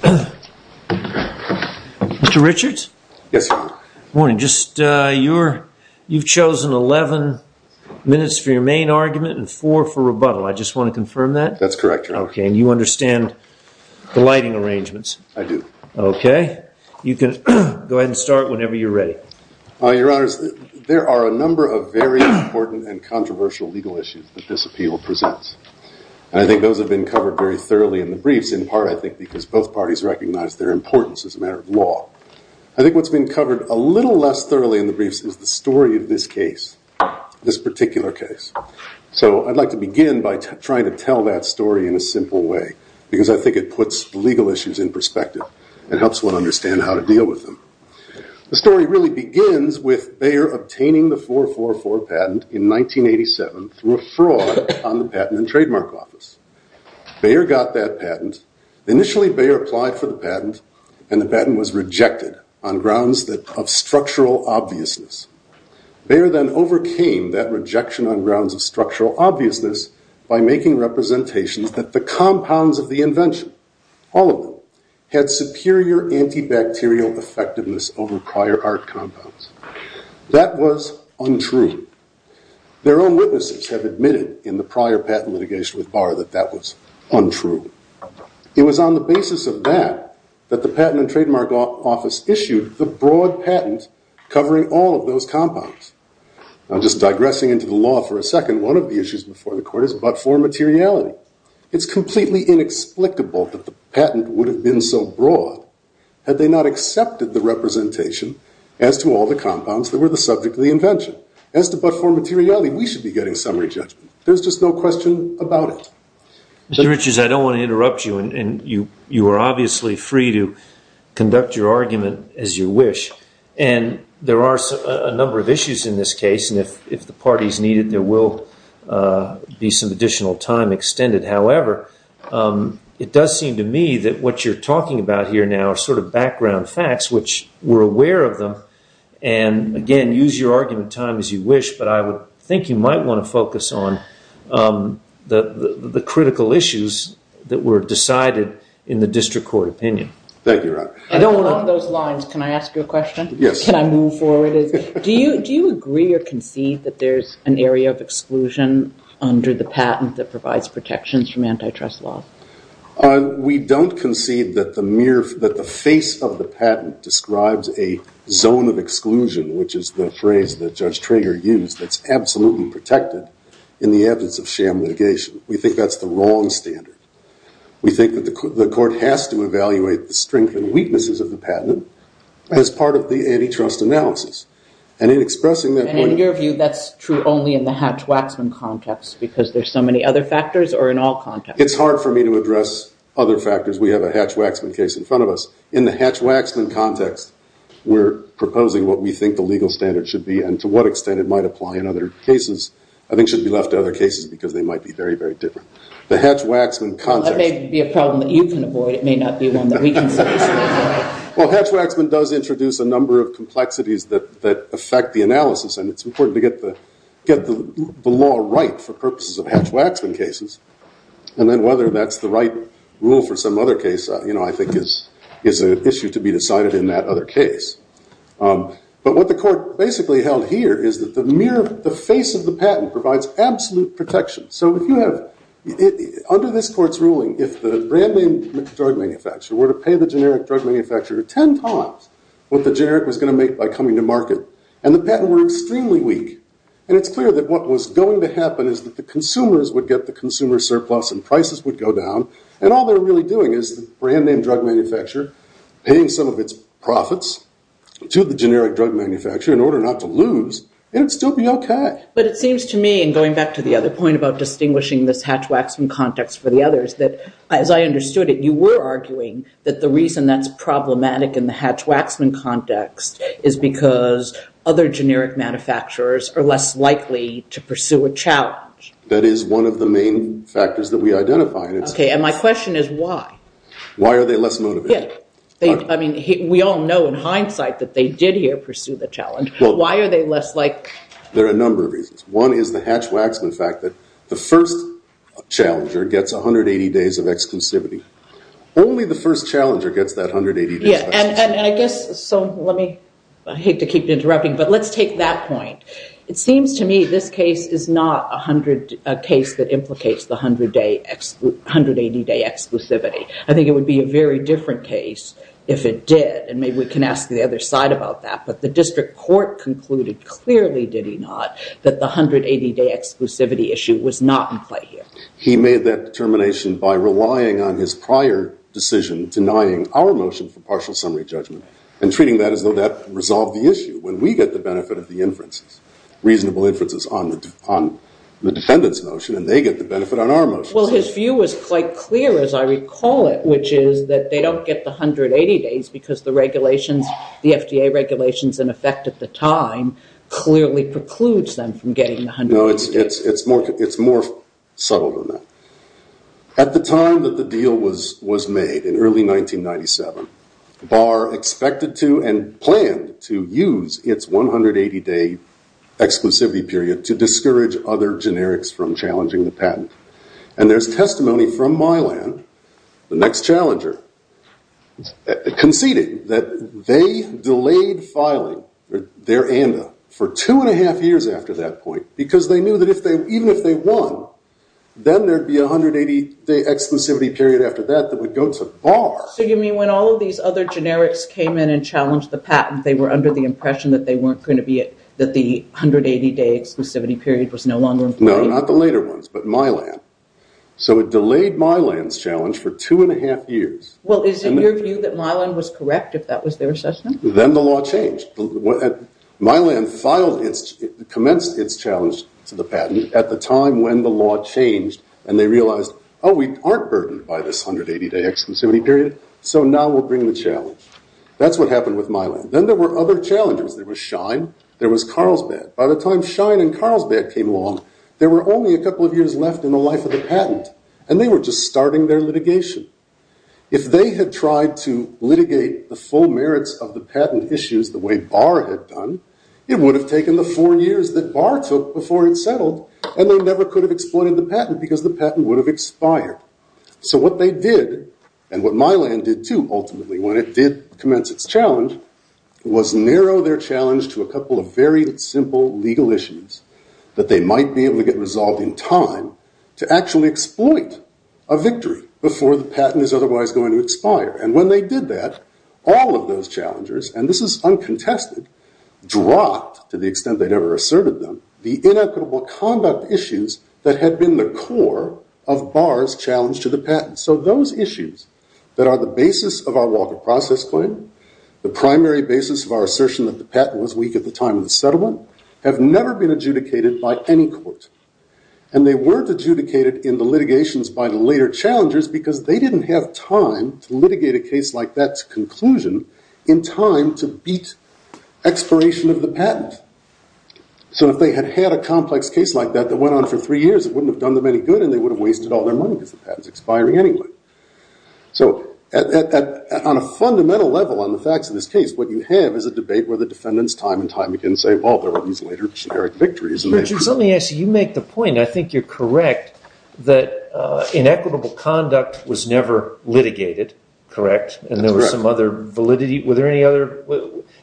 Mr. Richards, you've chosen 11 minutes for your main argument and 4 for rebuttal. I just want to confirm that? That's correct, Your Honor. Okay, and you understand the lighting arrangements? I do. Okay, you can go ahead and start whenever you're ready. Your Honor, there are a number of very important and controversial legal issues that this appeal presents. I think those have been covered very thoroughly in the briefs, in part, I think, because both parties recognize their importance as a matter of law. I think what's been covered a little less thoroughly in the briefs is the story of this case, this particular case. So I'd like to begin by trying to tell that story in a simple way, because I think it puts legal issues in perspective and helps one understand how to deal with them. The story really begins with Bayer obtaining the 444 patent in 1987 through a fraud on the Patent and Trademark Office. Bayer got that patent. Initially, Bayer applied for the patent, and the patent was rejected on grounds of structural obviousness. Bayer then overcame that rejection on grounds of structural obviousness by making representations that the compounds of the invention, all of them, had superior antibacterial effectiveness over prior art compounds. That was untrue. Their own witnesses have admitted in the prior patent litigation with Bayer that that was untrue. It was on the basis of that that the Patent and Trademark Office issued the broad patent covering all of those compounds. I'm just digressing into the law for a second. One of the issues before the Court is but for materiality. It's completely inexplicable that the patent would have been so broad had they not accepted the representation as to all the compounds that were the subject of the invention. As to but for materiality, we should be getting summary judgment. There's just no question about it. Mr. Richards, I don't want to interrupt you, and you are obviously free to conduct your argument as you wish. There are a number of issues in this case, and if the parties need it, there will be some additional time extended. However, it does seem to me that what you're talking about here now are sort of background facts which we're aware of them. Again, use your argument time as you wish, but I would think you might want to focus on the critical issues that were decided in the District Court opinion. Thank you, Robert. Along those lines, can I ask you a question? Yes. Can I move forward? Do you agree or concede that there's an area of exclusion under the patent that provides protections from antitrust law? We don't concede that the face of the patent describes a zone of exclusion, which is the phrase that Judge Trager used, that's absolutely protected in the absence of sham litigation. We think that's the wrong standard. We think that the court has to evaluate the strengths and weaknesses of the patent as part of the antitrust analysis. And in expressing that point- And in your view, that's true only in the Hatch-Waxman context because there's so many other factors or in all contexts? It's hard for me to address other factors. We have a Hatch-Waxman case in front of us. In the Hatch-Waxman context, we're proposing what we think the legal standard should be and to what extent it might apply in other cases. I think it should be left to other cases because they might be very, very different. The Hatch-Waxman context- That may be a problem that you can avoid. It may not be one that we can solve. Well, Hatch-Waxman does introduce a number of complexities that affect the analysis, and it's important to get the law right for purposes of Hatch-Waxman cases. And then whether that's the right rule for some other case, I think, is an issue to be decided in that other case. But what the court basically held here is that the face of the patent provides absolute protection. So if you have- under this court's ruling, if the brand name drug manufacturer were to pay the generic drug manufacturer 10 times what the generic was going to make by coming to market, and the patent were extremely weak, and it's clear that what was going to happen is that the consumers would get the consumer surplus and prices would go down, and all they're really doing is the brand name drug manufacturer paying some of its profits to the generic drug manufacturer in order not to lose, it would still be okay. But it seems to me, and going back to the other point about distinguishing this Hatch-Waxman context for the others, that as I understood it, you were arguing that the reason that's problematic in the Hatch-Waxman context is because other generic manufacturers are less likely to pursue a challenge. That is one of the main factors that we identified. Okay, and my question is why? Why are they less motivated? I mean, we all know in hindsight that they did here pursue the challenge. Why are they less like- There are a number of reasons. One is the Hatch-Waxman fact that the first challenger gets 180 days of exclusivity. Only the first challenger gets that 180- Yeah, and I guess, so let me, I hate to keep interrupting, but let's take that point. It seems to me this case is not a case that implicates the 180-day exclusivity. I think it would be a very different case if it did, and maybe we can ask the other side about that, but the district court concluded clearly, did he not, that the 180-day exclusivity issue was not in play here. He made that determination by relying on his prior decision, denying our motion for partial summary judgment, and treating that as though that resolved the issue. When we get the benefit of the inferences, reasonable inferences on the defendant's motion, and they get the benefit on our motion. Well, his view was quite clear as I recall it, which is that they don't get the 180 days because the FDA regulations in effect at the time clearly precludes them from getting the 180 days. No, it's more subtle than that. At the time that the deal was made, in early 1997, Barr expected to and planned to use its 180-day exclusivity period to discourage other generics from challenging the patent. And there's testimony from Mylan, the next challenger, conceding that they delayed filing their ANDA for two and a half years after that point because they knew that even if they won, then there'd be a 180-day exclusivity period after that that would go to Barr. So you mean when all of these other generics came in and challenged the patent, they were under the impression that the 180-day exclusivity period was no longer in play? No, not the later ones, but Mylan. So it delayed Mylan's challenge for two and a half years. Well, is it your view that Mylan was correct if that was their assessment? Then the law changed. Mylan commenced its challenge to the patent at the time when the law changed, and they realized, oh, we aren't burdened by this 180-day exclusivity period, so now we'll bring the challenge. That's what happened with Mylan. Then there were other challengers. There was Shine. There was Carlsbad. By the time Shine and Carlsbad came along, there were only a couple of years left in the life of the patent, and they were just starting their litigation. If they had tried to litigate the full merits of the patent issues the way Barr had done, it would have taken the four years that Barr took before it settled, and they never could have exploited the patent because the patent would have expired. So what they did, and what Mylan did, too, ultimately, when it did commence its challenge, was narrow their challenge to a couple of very simple legal issues that they might be able to get resolved in time to actually exploit a victory before the patent is otherwise going to expire. And when they did that, all of those challengers, and this is uncontested, dropped, to the extent they'd ever asserted them, the inequitable conduct issues that had been the core of Barr's challenge to the patent. So those issues that are the basis of our Walker process claim, the primary basis of our assertion that the patent was weak at the time of the settlement, have never been adjudicated by any court. And they weren't adjudicated in the litigations by the later challengers because they didn't have time to litigate a case like that's conclusion in time to beat expiration of the patent. So if they had had a complex case like that that went on for three years, it wouldn't have done them any good and they would have wasted all their money because the patent's expiring anyway. So on a fundamental level on the facts of this case, what you have is a debate where the defendants time and time again say, well, there are these later generic victories. Richard, let me ask you, you make the point, I think you're correct, that inequitable conduct was never litigated, correct? That's correct. And there was some other validity, were there any other,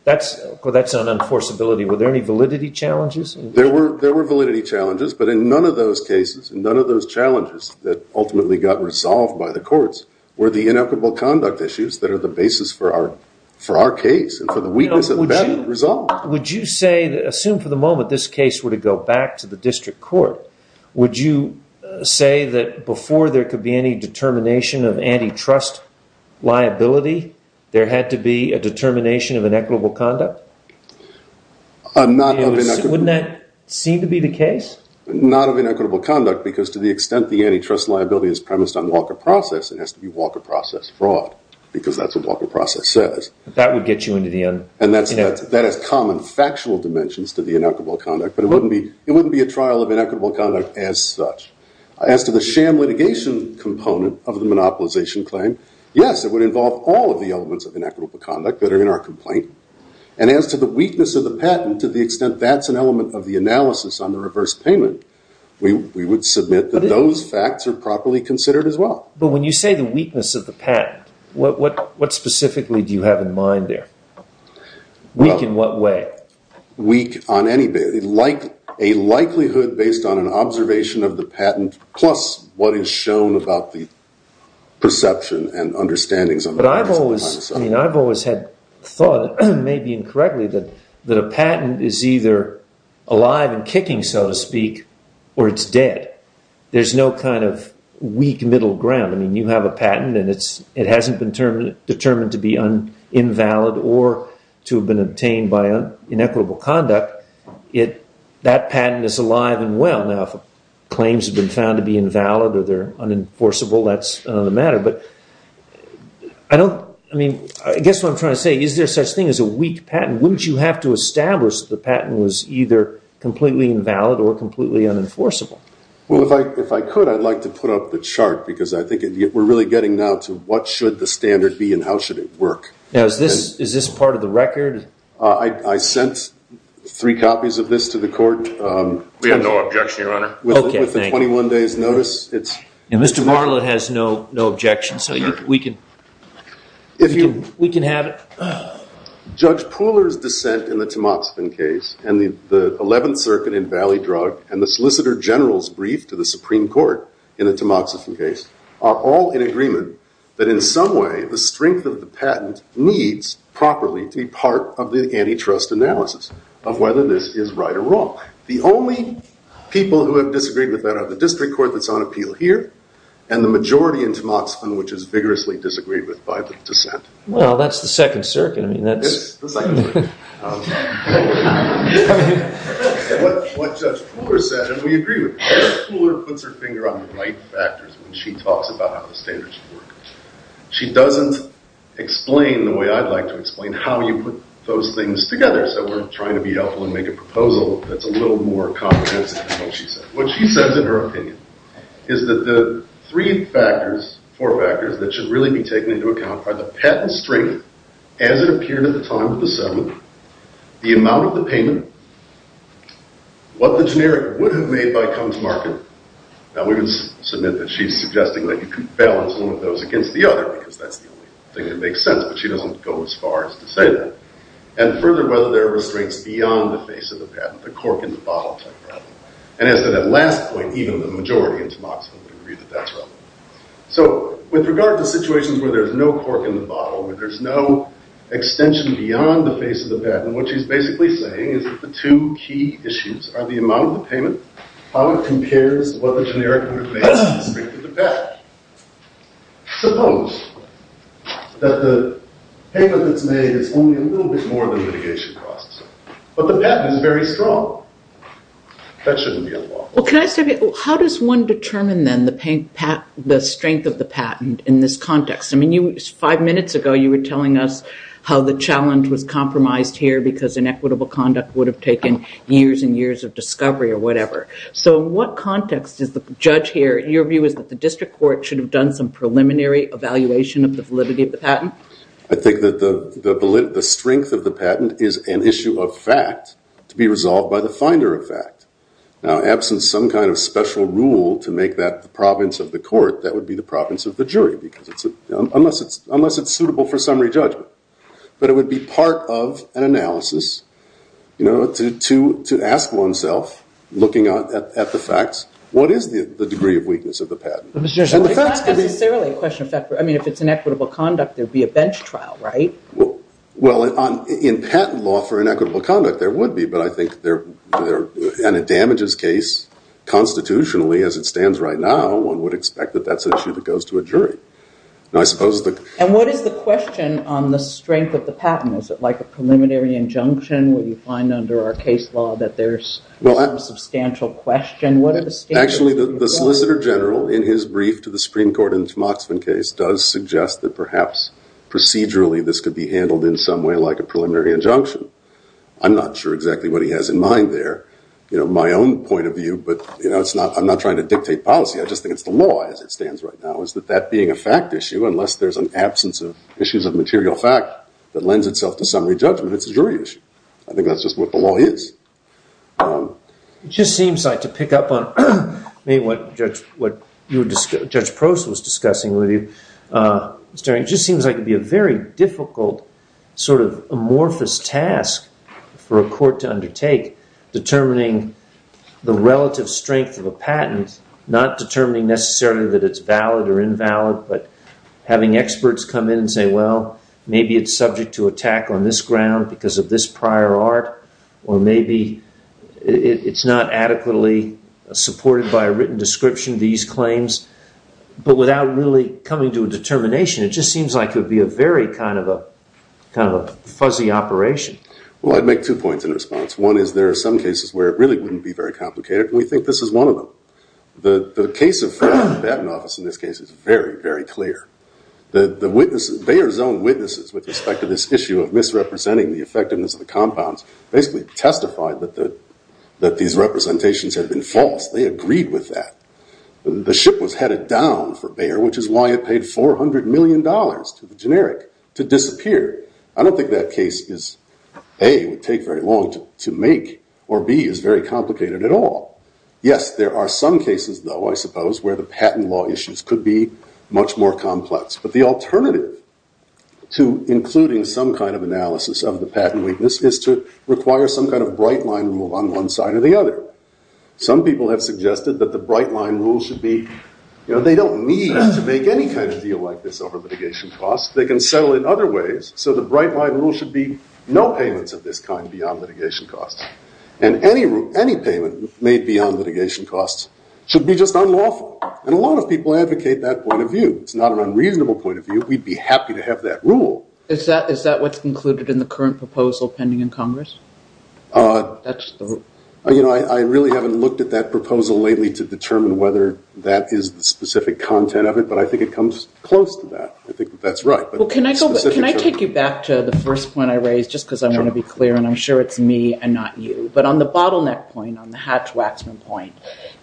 that's an enforceability, were there any validity challenges? There were validity challenges, but in none of those cases, none of those challenges that ultimately got resolved by the courts were the inequitable conduct issues that are the basis for our case and for the weakness of the patent resolved. Would you say, assume for the moment this case were to go back to the district court, would you say that before there could be any determination of antitrust liability, there had to be a determination of inequitable conduct? Not of inequitable. Wouldn't that seem to be the case? Not of inequitable conduct, because to the extent the antitrust liability is premised on Walker process, it has to be Walker process fraud, because that's what Walker process says. That would get you into the un- And that has common factual dimensions to the inequitable conduct, but it wouldn't be a trial of inequitable conduct as such. As to the sham litigation component of the monopolization claim, yes, it would involve all of the elements of inequitable conduct that are in our complaint, and as to the weakness of the patent, to the extent that's an element of the analysis on the reverse payment, we would submit that those facts are properly considered as well. But when you say the weakness of the patent, what specifically do you have in mind there? Weak in what way? Weak on any basis. A likelihood based on an observation of the patent, I've always had thought, maybe incorrectly, that a patent is either alive and kicking, so to speak, or it's dead. There's no kind of weak middle ground. I mean, you have a patent and it hasn't been determined to be invalid or to have been obtained by inequitable conduct. That patent is alive and well. Now, if claims have been found to be invalid or they're unenforceable, that's another matter. But I guess what I'm trying to say, is there such a thing as a weak patent? Wouldn't you have to establish that the patent was either completely invalid or completely unenforceable? Well, if I could, I'd like to put up the chart, because I think we're really getting now to what should the standard be and how should it work. Now, is this part of the record? I sent three copies of this to the court. We have no objection, Your Honor. With the 21 days' notice. Mr. Bartlett has no objection, so we can have it. Judge Pooler's dissent in the Tamoxifen case, and the 11th Circuit in Valley Drug, and the Solicitor General's brief to the Supreme Court in the Tamoxifen case, are all in agreement that in some way the strength of the patent needs properly to be part of the antitrust analysis of whether this is right or wrong. The only people who have disagreed with that are the district court that's on appeal here, and the majority in Tamoxifen, which is vigorously disagreed with by the dissent. Well, that's the Second Circuit. It's the Second Circuit. What Judge Pooler said, and we agree with. Judge Pooler puts her finger on the right factors when she talks about how the standards should work. She doesn't explain the way I'd like to explain how you put those things together. So we're trying to be helpful and make a proposal that's a little more comprehensive than what she said. What she says in her opinion is that the three factors, four factors, that should really be taken into account are the patent strength as it appeared at the time of the settlement, the amount of the payment, what the generic would have made by-comes-market. Now, we would submit that she's suggesting that you could balance one of those against the other, because that's the only thing that makes sense, but she doesn't go as far as to say that. And further, whether there are restraints beyond the face of the patent, the cork-in-the-bottle type of problem. And as to that last point, even the majority in Tamoxifen would agree that that's wrong. So with regard to situations where there's no cork-in-the-bottle, where there's no extension beyond the face of the patent, what she's basically saying is that the two key issues are the amount of the payment, how it compares to what the generic would have made to the strength of the patent. Suppose that the payment that's made is only a little bit more than the litigation costs, but the patent is very strong. That shouldn't be unlawful. Well, can I say, how does one determine, then, the strength of the patent in this context? I mean, five minutes ago, you were telling us how the challenge was compromised here because inequitable conduct would have taken years and years of discovery or whatever. So in what context is the judge here? Your view is that the district court should have done some preliminary evaluation of the validity of the patent? I think that the strength of the patent is an issue of fact to be resolved by the finder of fact. Now, absent some kind of special rule to make that the province of the court, that would be the province of the jury, unless it's suitable for summary judgment. But it would be part of an analysis to ask oneself, looking at the facts, what is the degree of weakness of the patent? It's not necessarily a question of fact. I mean, if it's inequitable conduct, there would be a bench trial, right? Well, in patent law for inequitable conduct, there would be. But I think in a damages case, constitutionally, as it stands right now, And what is the question on the strength of the patent? Is it like a preliminary injunction where you find under our case law that there's a substantial question? Actually, the Solicitor General, in his brief to the Supreme Court in the Tamoxifen case, does suggest that perhaps procedurally this could be handled in some way like a preliminary injunction. I'm not sure exactly what he has in mind there. My own point of view, but I'm not trying to dictate policy. I just think it's the law, as it stands right now, is that that being a fact issue, unless there's an absence of issues of material fact that lends itself to summary judgment, it's a jury issue. I think that's just what the law is. It just seems like, to pick up on what Judge Prost was discussing with you, it just seems like it would be a very difficult, sort of amorphous task for a court to undertake, determining the relative strength of a patent, not determining necessarily that it's valid or invalid, but having experts come in and say, well, maybe it's subject to attack on this ground because of this prior art, or maybe it's not adequately supported by a written description of these claims. But without really coming to a determination, it just seems like it would be a very kind of a fuzzy operation. Well, I'd make two points in response. One is there are some cases where it really wouldn't be very complicated, and we think this is one of them. The case of Fred Battenoff, in this case, is very, very clear. Bayer's own witnesses with respect to this issue of misrepresenting the effectiveness of the compounds basically testified that these representations had been false. They agreed with that. The ship was headed down for Bayer, which is why it paid $400 million to the generic to disappear. I don't think that case is, A, would take very long to make, or B, is very complicated at all. Yes, there are some cases, though, I suppose, where the patent law issues could be much more complex. But the alternative to including some kind of analysis of the patent weakness is to require some kind of bright line rule on one side or the other. Some people have suggested that the bright line rule should be, you know, they don't need to make any kind of deal like this over litigation costs. They can settle it other ways, so the bright line rule should be no payments of this kind beyond litigation costs. And any payment made beyond litigation costs should be just unlawful. And a lot of people advocate that point of view. It's not an unreasonable point of view. We'd be happy to have that rule. Is that what's included in the current proposal pending in Congress? You know, I really haven't looked at that proposal lately to determine whether that is the specific content of it, but I think it comes close to that. I think that that's right. Well, can I take you back to the first point I raised, just because I want to be clear, and I'm sure it's me and not you. But on the bottleneck point, on the Hatch-Waxman point,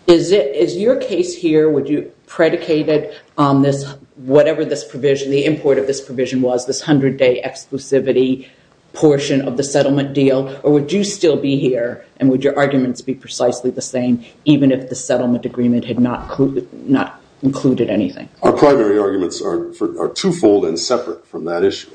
is your case here, would you predicate it on this whatever this provision, the import of this provision was, this 100-day exclusivity portion of the settlement deal, or would you still be here, and would your arguments be precisely the same even if the settlement agreement had not included anything? Our primary arguments are twofold and separate from that issue.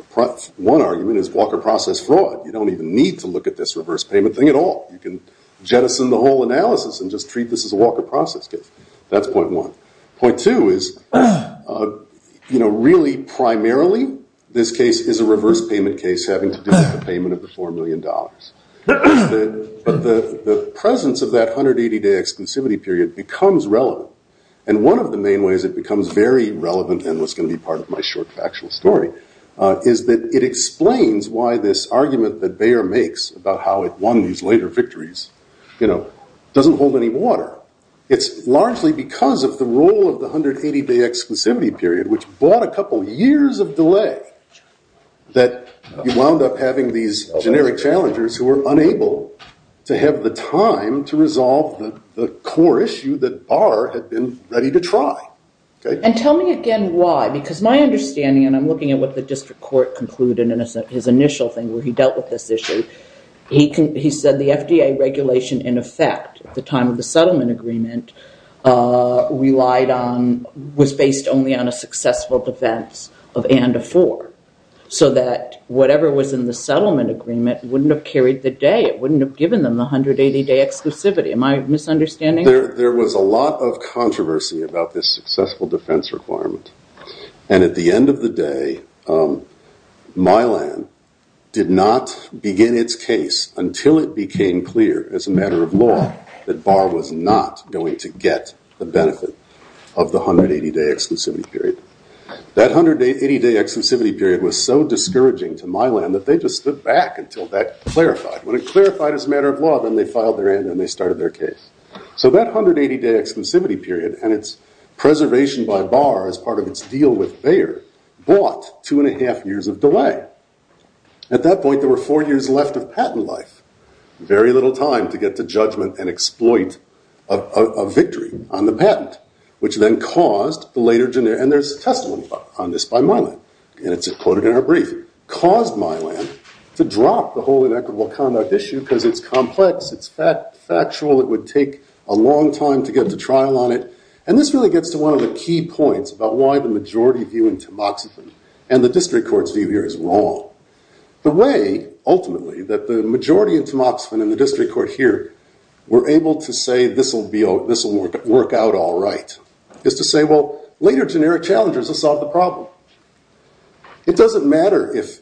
One argument is Walker process fraud. You don't even need to look at this reverse payment thing at all. You can jettison the whole analysis and just treat this as a Walker process case. That's point one. Point two is, you know, really primarily this case is a reverse payment case, having to do with the payment of the $4 million. But the presence of that 180-day exclusivity period becomes relevant. And one of the main ways it becomes very relevant and was going to be part of my short factual story is that it explains why this argument that Bayer makes about how it won these later victories, you know, doesn't hold any water. It's largely because of the role of the 180-day exclusivity period, which brought a couple years of delay, that you wound up having these generic challengers who were unable to have the time to resolve the core issue that Bayer had been ready to try. And tell me again why, because my understanding, and I'm looking at what the district court concluded in his initial thing where he dealt with this issue, he said the FDA regulation in effect at the time of the settlement agreement relied on, was based only on a successful defense of and-a-for, so that whatever was in the settlement agreement wouldn't have carried the day. There was a lot of controversy about this successful defense requirement. And at the end of the day, Mylan did not begin its case until it became clear as a matter of law that Bayer was not going to get the benefit of the 180-day exclusivity period. That 180-day exclusivity period was so discouraging to Mylan that they just stood back until that clarified. When it clarified as a matter of law, then they filed their end and they started their case. So that 180-day exclusivity period and its preservation by Barr as part of its deal with Bayer bought two and a half years of delay. At that point, there were four years left of patent life, very little time to get to judgment and exploit a victory on the patent, which then caused the later generic, and there's testimony on this by Mylan, and it's quoted in our brief, caused Mylan to drop the whole inequitable conduct issue because it's complex, it's factual, it would take a long time to get to trial on it. And this really gets to one of the key points about why the majority view in Tamoxifen and the district court's view here is wrong. The way, ultimately, that the majority in Tamoxifen and the district court here were able to say this will work out all right is to say, well, later generic challengers will solve the problem. It doesn't matter if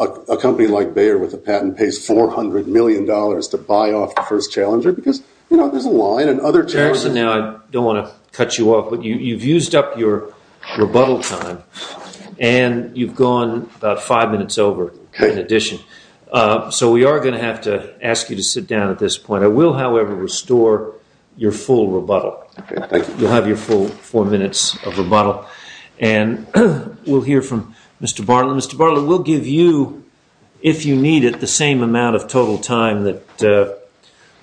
a company like Bayer with a patent pays $400 million to buy off the first challenger because, you know, there's a line and other challengers... Jackson, now, I don't want to cut you off, but you've used up your rebuttal time and you've gone about five minutes over in addition. So we are going to have to ask you to sit down at this point. I will, however, restore your full rebuttal. Okay, thank you. You'll have your full four minutes of rebuttal. And we'll hear from Mr. Barlow. Mr. Barlow, we'll give you, if you need it, the same amount of total time that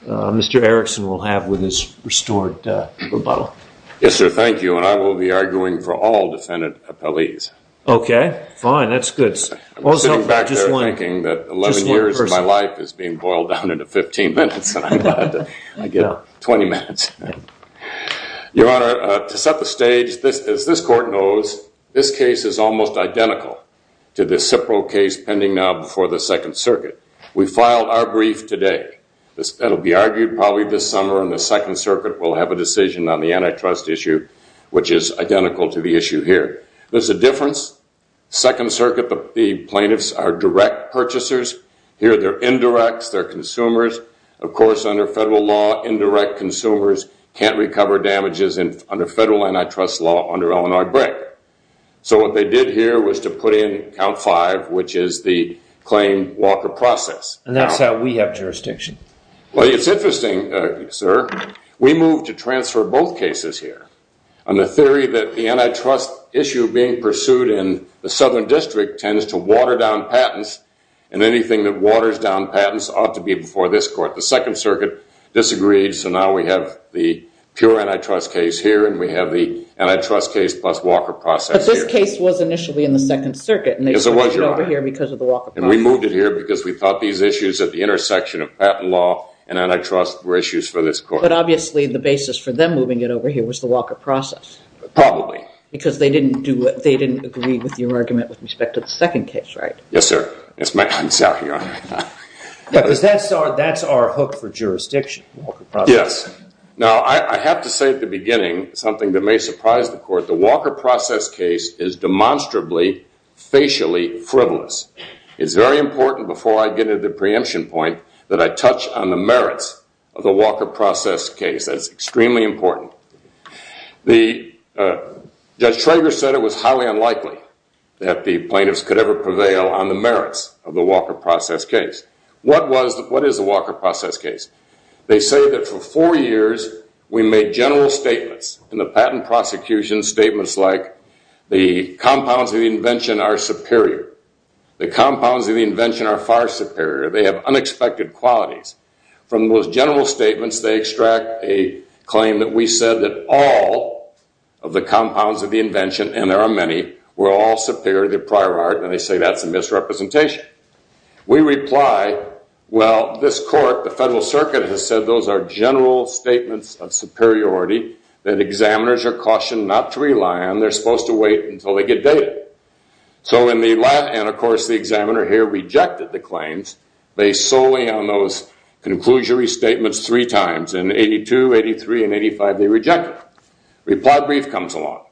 Mr. Erickson will have with his restored rebuttal. Yes, sir, thank you. And I will be arguing for all defendant appellees. Okay, fine. That's good. I'm sitting back there thinking that 11 years of my life is being boiled down into 15 minutes and I'm glad I get 20 minutes. Your Honor, to set the stage, as this court knows, this case is almost identical to the Cipro case pending now before the Second Circuit. We filed our brief today. That will be argued probably this summer, and the Second Circuit will have a decision on the antitrust issue, which is identical to the issue here. There's a difference. Second Circuit plaintiffs are direct purchasers. Here they're indirects. They're consumers. Of course, under federal law, indirect consumers can't recover damages under federal antitrust law under Illinois Brick. So what they did here was to put in Count 5, which is the claim walker process. And that's how we have jurisdiction. Well, it's interesting, sir. We moved to transfer both cases here. On the theory that the antitrust issue being pursued in the Southern District tends to water down patents, and anything that waters down patents ought to be before this court. The Second Circuit disagreed, so now we have the pure antitrust case here and we have the antitrust case plus walker process here. But this case was initially in the Second Circuit. Yes, it was, Your Honor. And they put it over here because of the walker process. And we moved it here because we thought these issues at the intersection of patent law and antitrust were issues for this court. But obviously the basis for them moving it over here was the walker process. Probably. Because they didn't agree with your argument with respect to the second case, right? Yes, sir. I'm sorry, Your Honor. Because that's our hook for jurisdiction, walker process. Yes. Now, I have to say at the beginning something that may surprise the court. The walker process case is demonstrably, facially frivolous. It's very important before I get into the preemption point that I touch on the merits of the walker process case. That's extremely important. Judge Trager said it was highly unlikely that the plaintiffs could ever prevail on the merits of the walker process case. What is the walker process case? They say that for four years we made general statements in the patent prosecution, statements like the compounds of the invention are superior. The compounds of the invention are far superior. They have unexpected qualities. From those general statements they extract a claim that we said that all of the compounds of the invention, and there are many, were all superior to the prior art, and they say that's a misrepresentation. We reply, well, this court, the Federal Circuit, has said those are general statements of superiority that examiners are cautioned not to rely on. They're supposed to wait until they get data. And, of course, the examiner here rejected the claims based solely on those conclusionary statements three times. In 82, 83, and 85 they reject it. Reply brief comes along.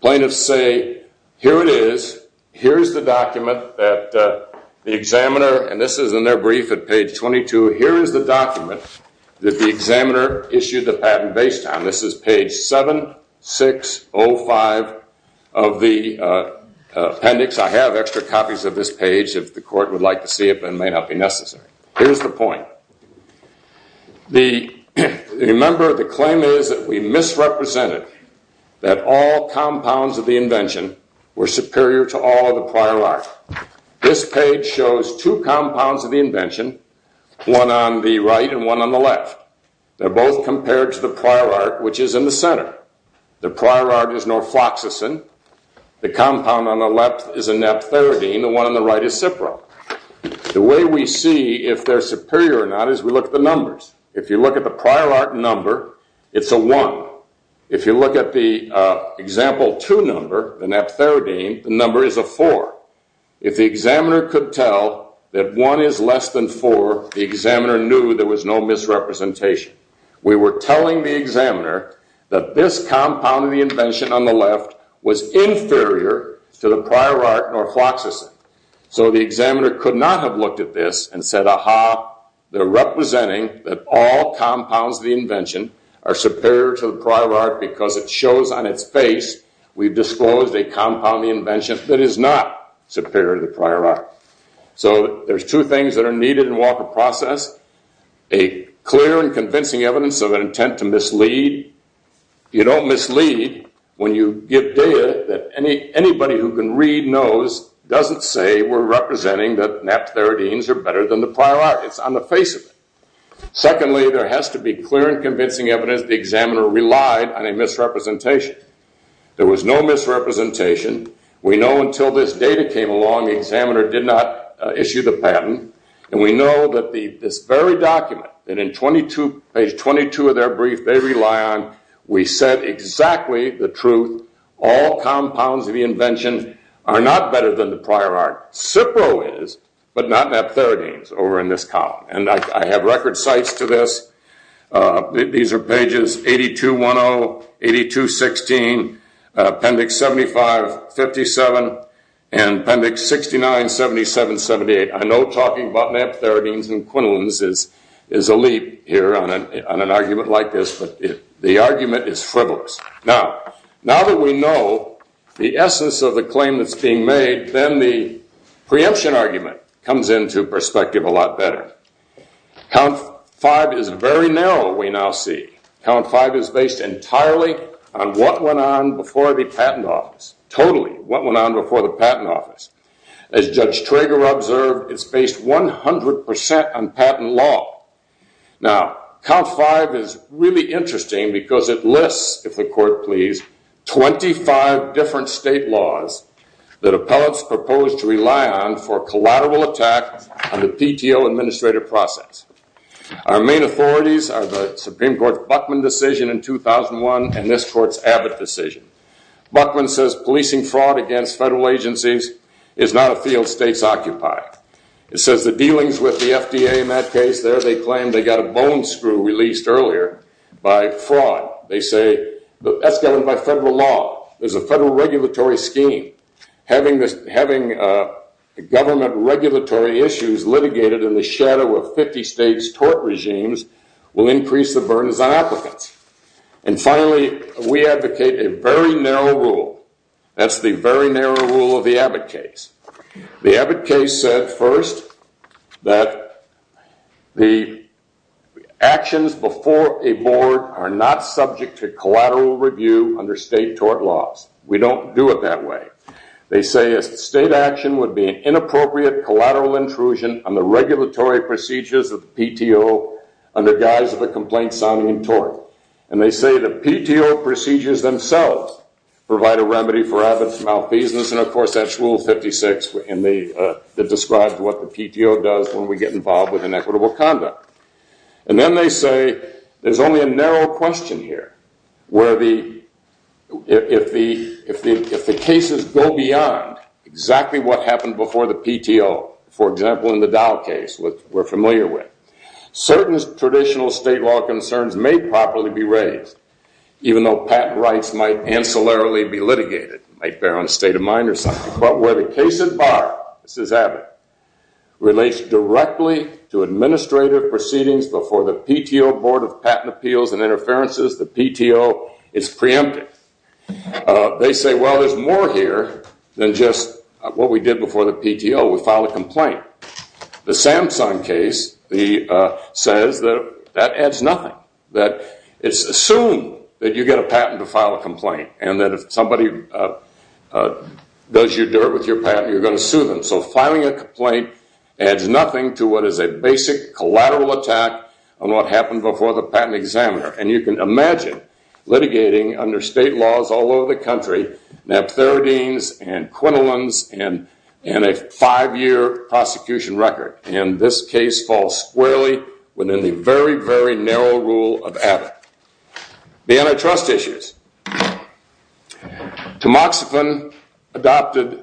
Plaintiffs say here it is, here is the document that the examiner, and this is in their brief at page 22, here is the document that the examiner issued the patent based on. This is page 7605 of the appendix. I have extra copies of this page if the court would like to see it but it may not be necessary. Here's the point. Remember, the claim is that we misrepresented that all compounds of the invention were superior to all of the prior art. This page shows two compounds of the invention, one on the right and one on the left. They're both compared to the prior art, which is in the center. The prior art is norfloxacin. The compound on the left is anephtharidine. The one on the right is cipro. The way we see if they're superior or not is we look at the numbers. If you look at the prior art number, it's a 1. If you look at the example 2 number, the anephtharidine, the number is a 4. If the examiner could tell that 1 is less than 4, the examiner knew there was no misrepresentation. We were telling the examiner that this compound of the invention on the left was inferior to the prior art norfloxacin. So the examiner could not have looked at this and said, ah-ha, they're representing that all compounds of the invention are superior to the prior art because it shows on its face we've disclosed a compound of the invention that is not superior to the prior art. So there's two things that are needed in Walker Process. A clear and convincing evidence of an intent to mislead. You don't mislead when you give data that anybody who can read knows doesn't say we're representing that anephtharidines are better than the prior art. It's on the face of it. Secondly, there has to be clear and convincing evidence the examiner relied on a misrepresentation. There was no misrepresentation. We know until this data came along the examiner did not issue the patent, and we know that this very document that in page 22 of their brief they rely on, we said exactly the truth. All compounds of the invention are not better than the prior art. Cipro is, but not anephtharidines over in this column. And I have record sites to this. These are pages 82-10, 82-16, appendix 75-57, and appendix 69-77-78. I know talking about anephtharidines and quinolones is a leap here on an argument like this, but the argument is frivolous. Now that we know the essence of the claim that's being made, then the preemption argument comes into perspective a lot better. Count 5 is very narrow, we now see. Count 5 is based entirely on what went on before the patent office, totally what went on before the patent office. As Judge Trager observed, it's based 100% on patent law. Now, Count 5 is really interesting because it lists, if the court please, 25 different state laws that appellates proposed to rely on for collateral attack on the PTO administrative process. Our main authorities are the Supreme Court's Buckman decision in 2001 and this court's Abbott decision. Buckman says policing fraud against federal agencies is not a field states occupy. It says the dealings with the FDA in that case there, they claim they got a bone screw released earlier by fraud. They say that's governed by federal law. There's a federal regulatory scheme. Having government regulatory issues litigated in the shadow of 50 states' tort regimes will increase the burdens on applicants. And finally, we advocate a very narrow rule. That's the very narrow rule of the Abbott case. The Abbott case said first that the actions before a board are not subject to collateral review under state tort laws. We don't do it that way. They say a state action would be an inappropriate collateral intrusion on the regulatory procedures of the PTO under guise of a complaint-sounding tort. And they say the PTO procedures themselves provide a remedy for Abbott's malfeasance, and, of course, that's Rule 56 that describes what the PTO does when we get involved with inequitable conduct. And then they say there's only a narrow question here, where if the cases go beyond exactly what happened before the PTO, for example, in the Dow case, which we're familiar with, certain traditional state law concerns may properly be raised, even though patent rights might ancillarily be litigated. It might bear on a state of mind or something. But where the case at bar, this is Abbott, relates directly to administrative proceedings before the PTO Board of Patent Appeals and Interferences, the PTO is preemptive. They say, well, there's more here than just what we did before the PTO. We filed a complaint. The Samsung case says that that adds nothing, that it's assumed that you get a patent to file a complaint and that if somebody does your dirt with your patent, you're going to sue them. So filing a complaint adds nothing to what is a basic collateral attack on what happened before the patent examiner. And you can imagine litigating under state laws all over the country, naphtheridines and quinolones and a five-year prosecution record, and this case falls squarely within the very, very narrow rule of Abbott. The antitrust issues. Tamoxifen adopted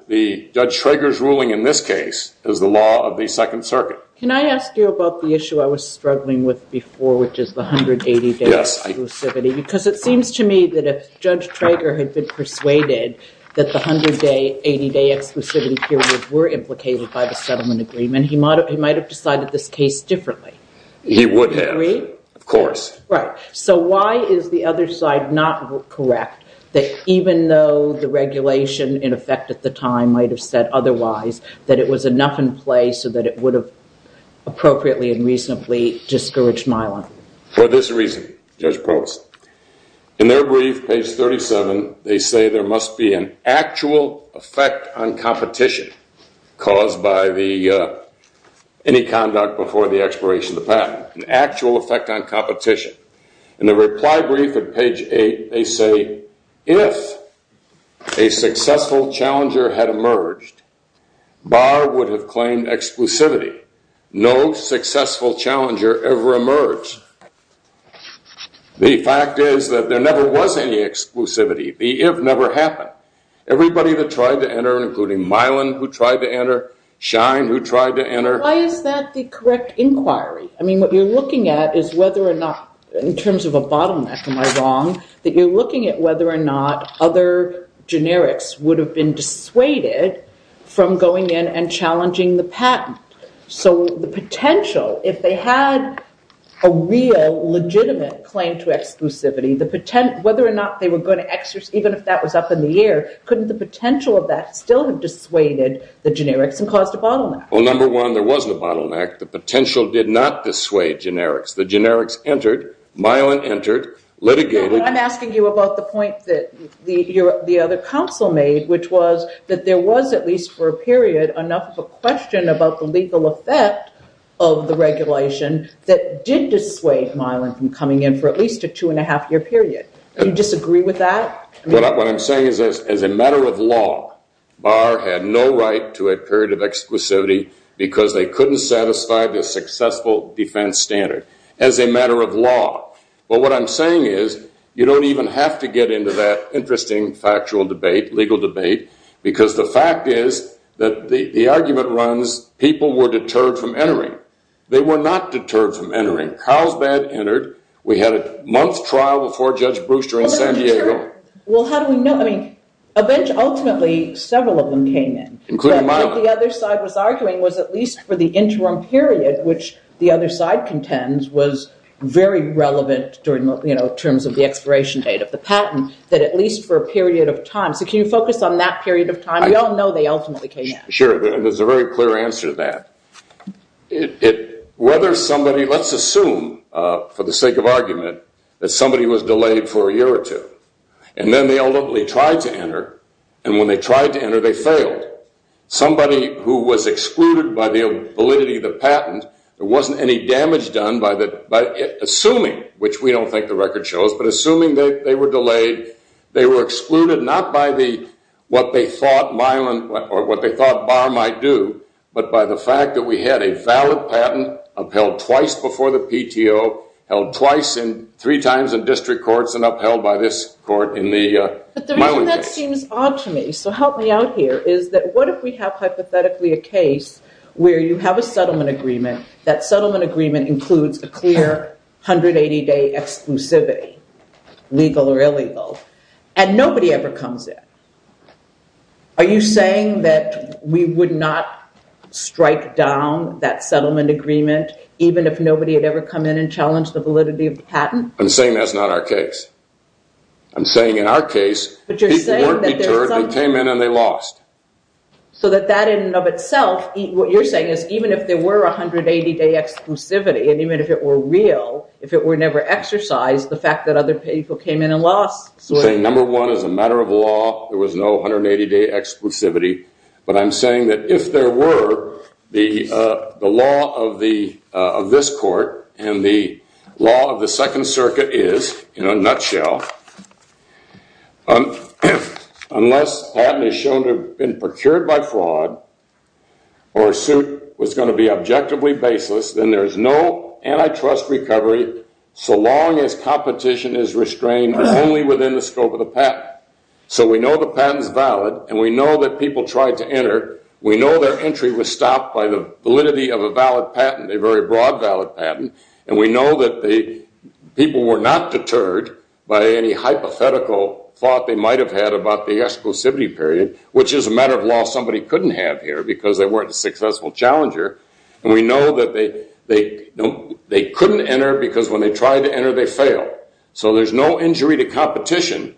Judge Trager's ruling in this case as the law of the Second Circuit. Can I ask you about the issue I was struggling with before, which is the 180-day exclusivity? Yes. Because it seems to me that if Judge Trager had been persuaded that the 180-day exclusivity period were implicated by the settlement agreement, he might have decided this case differently. He would have. Agree? Of course. Right. So why is the other side not correct, that even though the regulation, in effect at the time, might have said otherwise, that it was enough in place so that it would have appropriately and reasonably discouraged Mylon? For this reason, Judge Probst, in their brief, page 37, they say there must be an actual effect on competition caused by any conduct before the expiration of the patent. An actual effect on competition. In the reply brief at page 8, they say, if a successful challenger had emerged, Barr would have claimed exclusivity. No successful challenger ever emerged. The fact is that there never was any exclusivity. The if never happened. Everybody that tried to enter, including Mylon who tried to enter, Shine who tried to enter. Why is that the correct inquiry? I mean, what you're looking at is whether or not, in terms of a bottleneck, am I wrong, that you're looking at whether or not other generics would have been dissuaded from going in and challenging the patent. So the potential, if they had a real legitimate claim to exclusivity, whether or not they were going to exercise, even if that was up in the air, couldn't the potential of that still have dissuaded the generics and caused a bottleneck? Well, number one, there wasn't a bottleneck. The potential did not dissuade generics. The generics entered. Mylon entered. Litigated. I'm asking you about the point that the other counsel made, which was that there was, at least for a period, enough of a question about the legal effect of the regulation that did dissuade Mylon from coming in for at least a two-and-a-half-year period. Do you disagree with that? What I'm saying is as a matter of law, Barr had no right to a period of exclusivity because they couldn't satisfy the successful defense standard as a matter of law. But what I'm saying is you don't even have to get into that interesting factual debate, legal debate, because the fact is that the argument runs people were deterred from entering. They were not deterred from entering. Carlsbad entered. Well, how do we know? Ultimately, several of them came in. Including Mylon. What the other side was arguing was at least for the interim period, which the other side contends was very relevant in terms of the expiration date of the patent, that at least for a period of time. So can you focus on that period of time? We all know they ultimately came in. Sure, and there's a very clear answer to that. Let's assume for the sake of argument that somebody was delayed for a year or two. And then they ultimately tried to enter. And when they tried to enter, they failed. Somebody who was excluded by the validity of the patent, there wasn't any damage done by assuming, which we don't think the record shows, but assuming they were delayed, they were excluded not by what they thought Barr might do, but by the fact that we had a valid patent upheld twice before the PTO, held twice and three times in district courts, and upheld by this court in the Mylon case. But the reason that seems odd to me, so help me out here, is that what if we have hypothetically a case where you have a settlement agreement, that settlement agreement includes a clear 180-day exclusivity, legal or illegal, and nobody ever comes in? Are you saying that we would not strike down that settlement agreement even if nobody had ever come in and challenged the validity of the patent? I'm saying that's not our case. I'm saying in our case, people weren't deterred, they came in and they lost. So that that in and of itself, what you're saying is, even if there were a 180-day exclusivity, and even if it were real, if it were never exercised, the fact that other people came in and lost. I'm saying number one, as a matter of law, there was no 180-day exclusivity. But I'm saying that if there were, the law of this court and the law of the Second Circuit is, in a nutshell, unless a patent is shown to have been procured by fraud or a suit was going to be objectively baseless, then there's no antitrust recovery so long as competition is restrained only within the scope of the patent. So we know the patent is valid and we know that people tried to enter. We know their entry was stopped by the validity of a valid patent, a very broad valid patent. And we know that the people were not deterred by any hypothetical thought they might have had about the exclusivity period, which is a matter of law somebody couldn't have here because they weren't a successful challenger. And we know that they couldn't enter because when they tried to enter, they failed. So there's no injury to competition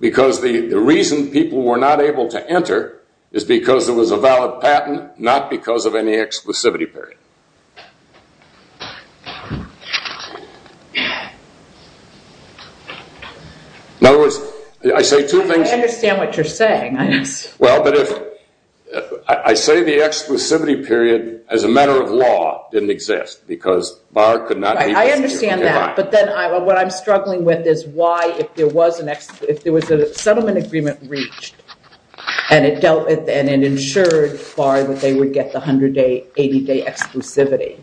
because the reason people were not able to enter is because it was a valid patent, not because of any exclusivity period. In other words, I say two things. I understand what you're saying. I say the exclusivity period, as a matter of law, didn't exist because Barr could not be... I understand that, but then what I'm struggling with is why, if there was a settlement agreement reached and it ensured Barr that they would get the 180-day exclusivity,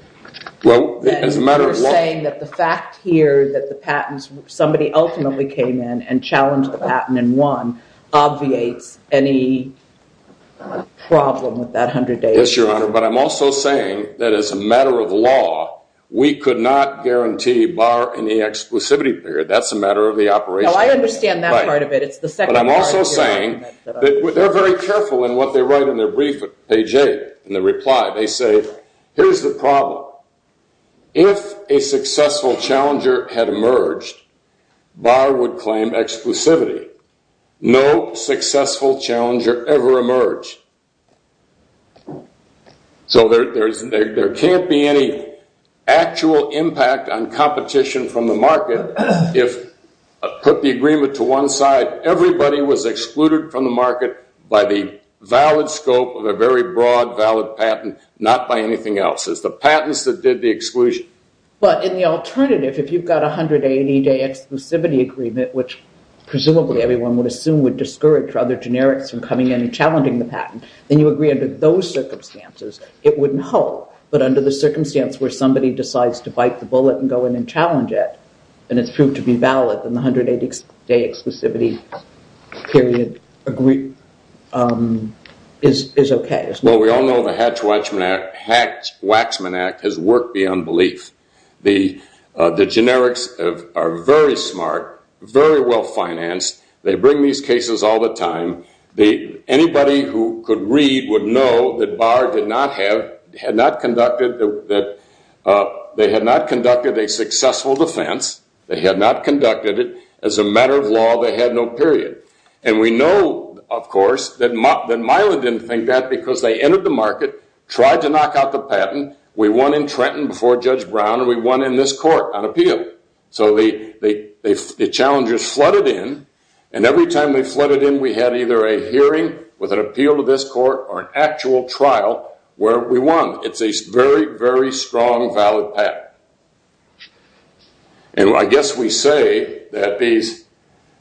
then you're saying that the fact here that somebody ultimately came in and challenged the patent and won obviates any problem with that 180-day... Yes, Your Honor, but I'm also saying that as a matter of law, we could not guarantee Barr any exclusivity period. That's a matter of the operation. No, I understand that part of it. But I'm also saying that they're very careful in what they write in their brief at page 8. In the reply, they say, here's the problem. If a successful challenger had emerged, Barr would claim exclusivity. No successful challenger ever emerged. So there can't be any actual impact on competition from the market if I put the agreement to one side. Everybody was excluded from the market by the valid scope of a very broad, valid patent, not by anything else. It's the patents that did the exclusion. But in the alternative, if you've got a 180-day exclusivity agreement, which presumably everyone would assume would discourage other generics from coming in and challenging the patent, then you agree under those circumstances. It wouldn't help, but under the circumstance where somebody decides to bite the bullet and go in and challenge it, and it's proved to be valid, then the 180-day exclusivity period is okay. Well, we all know the Hatch-Waxman Act has worked beyond belief. The generics are very smart, very well financed. They bring these cases all the time. Anybody who could read would know that Barr had not conducted a successful defense. They had not conducted it. As a matter of law, they had no period. And we know, of course, that Miland didn't think that because they entered the market, tried to knock out the patent. We won in Trenton before Judge Brown, and we won in this court on appeal. So the challengers flooded in, and every time they flooded in, we had either a hearing with an appeal to this court or an actual trial where we won. It's a very, very strong, valid patent. And I guess we say that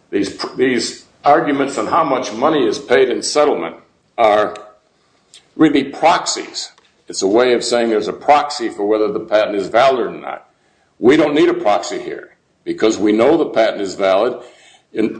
these arguments on how much money is paid in settlement are really proxies. It's a way of saying there's a proxy for whether the patent is valid or not. We don't need a proxy here because we know the patent is valid.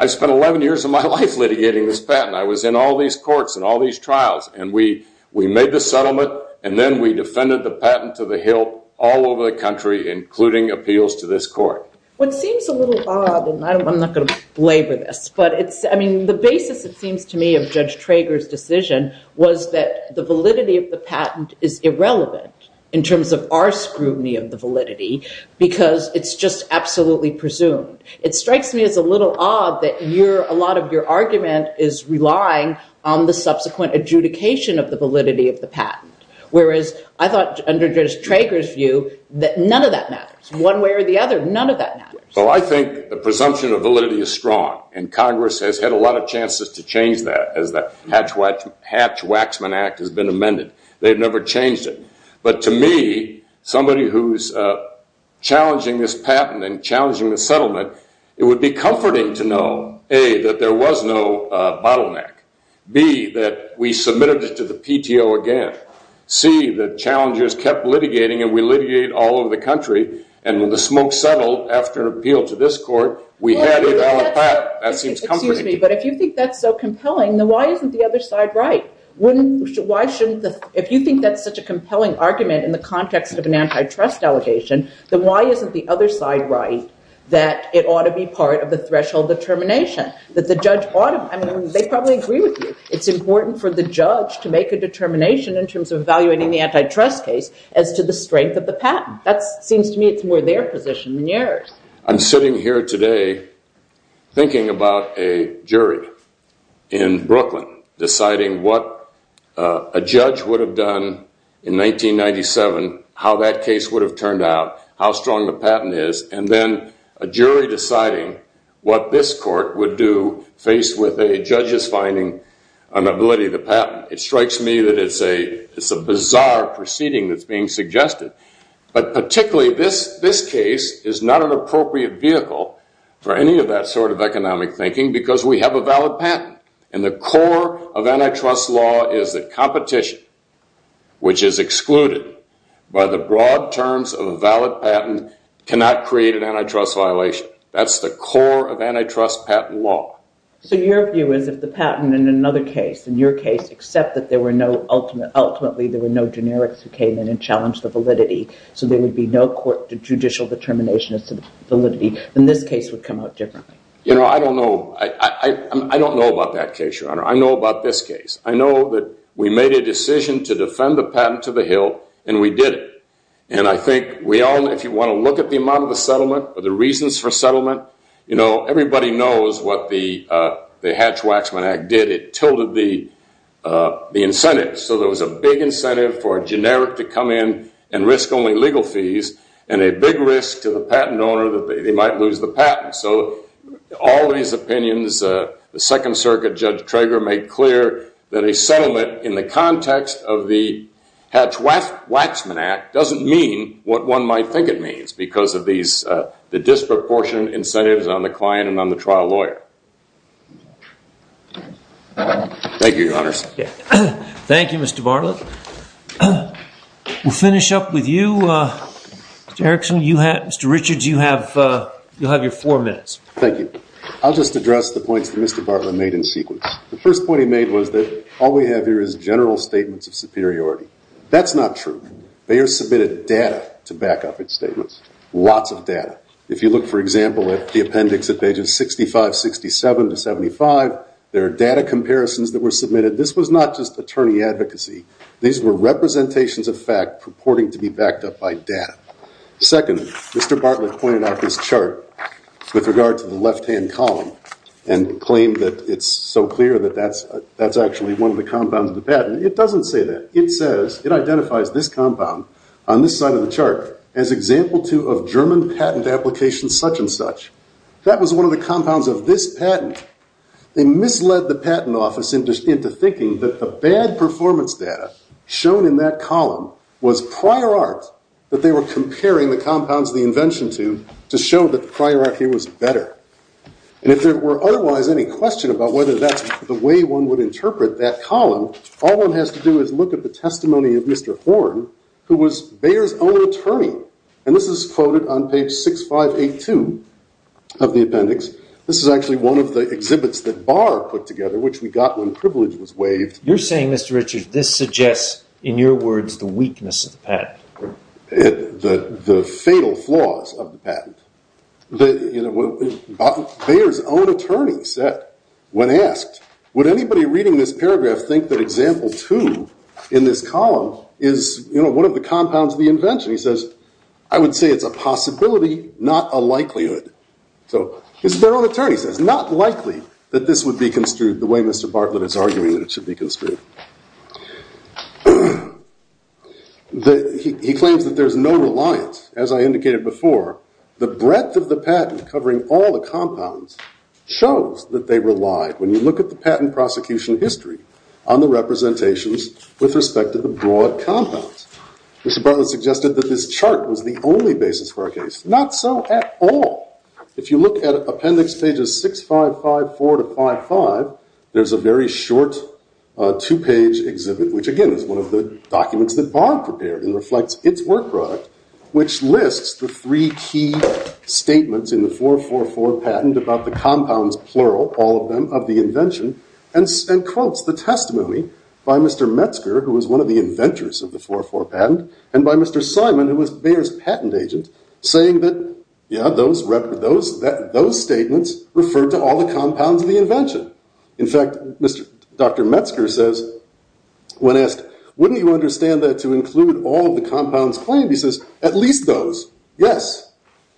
I spent 11 years of my life litigating this patent. I was in all these courts and all these trials, and we made the settlement, and then we defended the patent to the hilt all over the country, including appeals to this court. Well, it seems a little odd, and I'm not going to belabor this, but the basis, it seems to me, of Judge Trager's decision was that the validity of the patent is irrelevant in terms of our scrutiny of the validity because it's just absolutely presumed. It strikes me as a little odd that a lot of your argument is relying on the subsequent adjudication of the validity of the patent, whereas I thought under Judge Trager's view that none of that matters. One way or the other, none of that matters. Well, I think the presumption of validity is strong, and Congress has had a lot of chances to change that as the Hatch-Waxman Act has been amended. They've never changed it, but to me, somebody who's challenging this patent and challenging the settlement, it would be comforting to know, A, that there was no bottleneck, B, that we submitted it to the PTO again, C, that challengers kept litigating and we litigated all over the country, and when the smoke settled after an appeal to this court, we had a valid patent. That seems comforting to me. Excuse me, but if you think that's so compelling, then why isn't the other side right? If you think that's such a compelling argument in the context of an antitrust delegation, then why isn't the other side right that it ought to be part of the threshold determination, that the judge ought to, I mean, they probably agree with you. It's important for the judge to make a determination in terms of evaluating the antitrust case as to the strength of the patent. That seems to me it's more their position than yours. I'm sitting here today thinking about a jury in Brooklyn deciding what a judge would have done in 1997, how that case would have turned out, how strong the patent is, and then a jury deciding what this court would do faced with a judge's finding on the ability of the patent. It strikes me that it's a bizarre proceeding that's being suggested. But particularly this case is not an appropriate vehicle for any of that sort of economic thinking because we have a valid patent. And the core of antitrust law is that competition, which is excluded by the broad terms of a valid patent, cannot create an antitrust violation. That's the core of antitrust patent law. So your view is if the patent in another case, in your case, except that ultimately there were no generics who came in and challenged the validity, so there would be no judicial determination as to validity, then this case would come out differently. I don't know about that case, Your Honor. I know about this case. I know that we made a decision to defend the patent to the hill, and we did it. And I think if you want to look at the amount of the settlement or the reasons for settlement, everybody knows what the Hatch-Waxman Act did. It tilted the incentives. So there was a big incentive for a generic to come in and risk only legal fees, and a big risk to the patent owner that they might lose the patent. So all these opinions, the Second Circuit, Judge Trager, made clear that a settlement in the context of the Hatch-Waxman Act doesn't mean what one might think it means because of the disproportionate incentives on the client and on the trial lawyer. Thank you, Your Honors. Thank you, Mr. Bartlett. We'll finish up with you, Mr. Erickson. Mr. Richards, you'll have your four minutes. Thank you. I'll just address the points that Mr. Bartlett made in sequence. The first point he made was that all we have here is general statements of superiority. That's not true. Bayer submitted data to back up its statements, lots of data. If you look, for example, at the appendix at pages 65, 67 to 75, there are data comparisons that were submitted. This was not just attorney advocacy. These were representations of fact purporting to be backed up by data. Second, Mr. Bartlett pointed out this chart with regard to the left-hand column and claimed that it's so clear that that's actually one of the compounds of the patent. It doesn't say that. It says it identifies this compound on this side of the chart as example two of German patent application such and such. That was one of the compounds of this patent. They misled the patent office into thinking that the bad performance data shown in that column was prior art that they were comparing the compounds of the invention to to show that the prior art here was better. And if there were otherwise any question about whether that's the way one would interpret that column, all one has to do is look at the testimony of Mr. Horn, who was Bayer's own attorney. And this is quoted on page 6582 of the appendix. This is actually one of the exhibits that Barr put together, which we got when privilege was waived. You're saying, Mr. Richards, this suggests, in your words, the weakness of the patent. The fatal flaws of the patent. Bayer's own attorney said, when asked, would anybody reading this paragraph think that example two in this column is, you know, one of the compounds of the invention? He says, I would say it's a possibility, not a likelihood. So his Bayer own attorney says, not likely that this would be construed the way Mr. Bartlett is arguing that it should be construed. He claims that there's no reliance. As I indicated before, the breadth of the patent covering all the compounds shows that they relied. When you look at the patent prosecution history on the representations with respect to the broad compounds, Mr. Bartlett suggested that this chart was the only basis for a case. Not so at all. If you look at appendix pages 6554 to 55, there's a very short two page exhibit, which again is one of the documents that Barr prepared and reflects its work product, which lists the three key statements in the 444 patent about the compounds, plural, all of them of the invention and quotes the testimony by Mr. Metzger, who was one of the inventors of the 444 patent, and by Mr. Simon, who was Bayer's patent agent, saying that, yeah, those statements refer to all the compounds of the invention. In fact, Dr. Metzger says, when asked, wouldn't you understand that to include all the compounds claimed, he says, at least those, yes.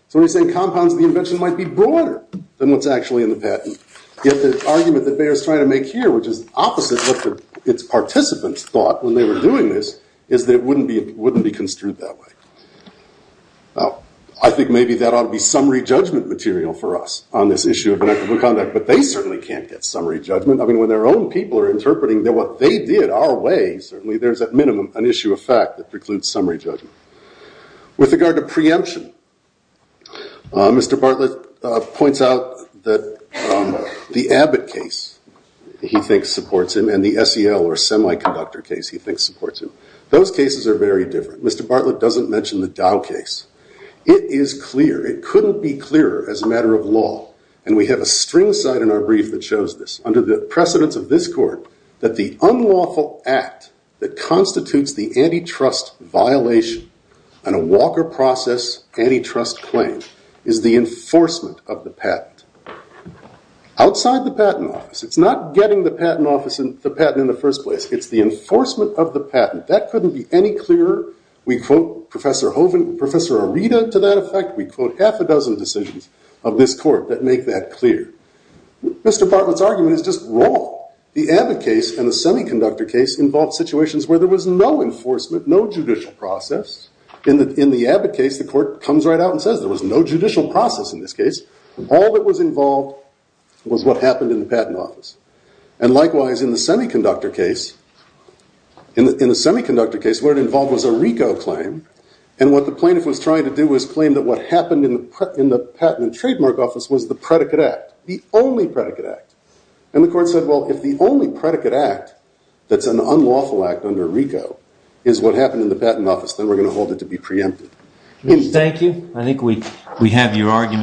So he's saying compounds of the invention might be broader than what's actually in the patent. Yet the argument that Bayer's trying to make here, which is opposite of what its participants thought when they were doing this, is that it wouldn't be construed that way. I think maybe that ought to be summary judgment material for us on this issue of inequitable conduct, but they certainly can't get summary judgment. I mean, when their own people are interpreting what they did our way, certainly there is, at minimum, an issue of fact that precludes summary judgment. With regard to preemption, Mr. Bartlett points out that the Abbott case, he thinks, supports him, and the SEL, or semiconductor case, he thinks supports him. Those cases are very different. Mr. Bartlett doesn't mention the Dow case. It is clear, it couldn't be clearer as a matter of law, and we have a string cite in our brief that shows this. of this court that the unlawful act that constitutes the antitrust violation and a Walker process antitrust claim is the enforcement of the patent. Outside the patent office, it's not getting the patent in the first place, it's the enforcement of the patent. That couldn't be any clearer. We quote Professor Hovind, Professor Arita to that effect. We quote half a dozen decisions of this court that make that clear. Mr. Bartlett's argument is just wrong. The Abbott case and the semiconductor case involved situations where there was no enforcement, no judicial process. In the Abbott case, the court comes right out and says there was no judicial process in this case. All that was involved was what happened in the patent office. And likewise, in the semiconductor case, what it involved was a RICO claim, and what the plaintiff was trying to do was claim that what happened in the patent and trademark office was the predicate act, the only predicate act. And the court said, well, if the only predicate act that's an unlawful act under RICO is what happened in the patent office, then we're going to hold it to be preempted. Thank you. I think we have your argument.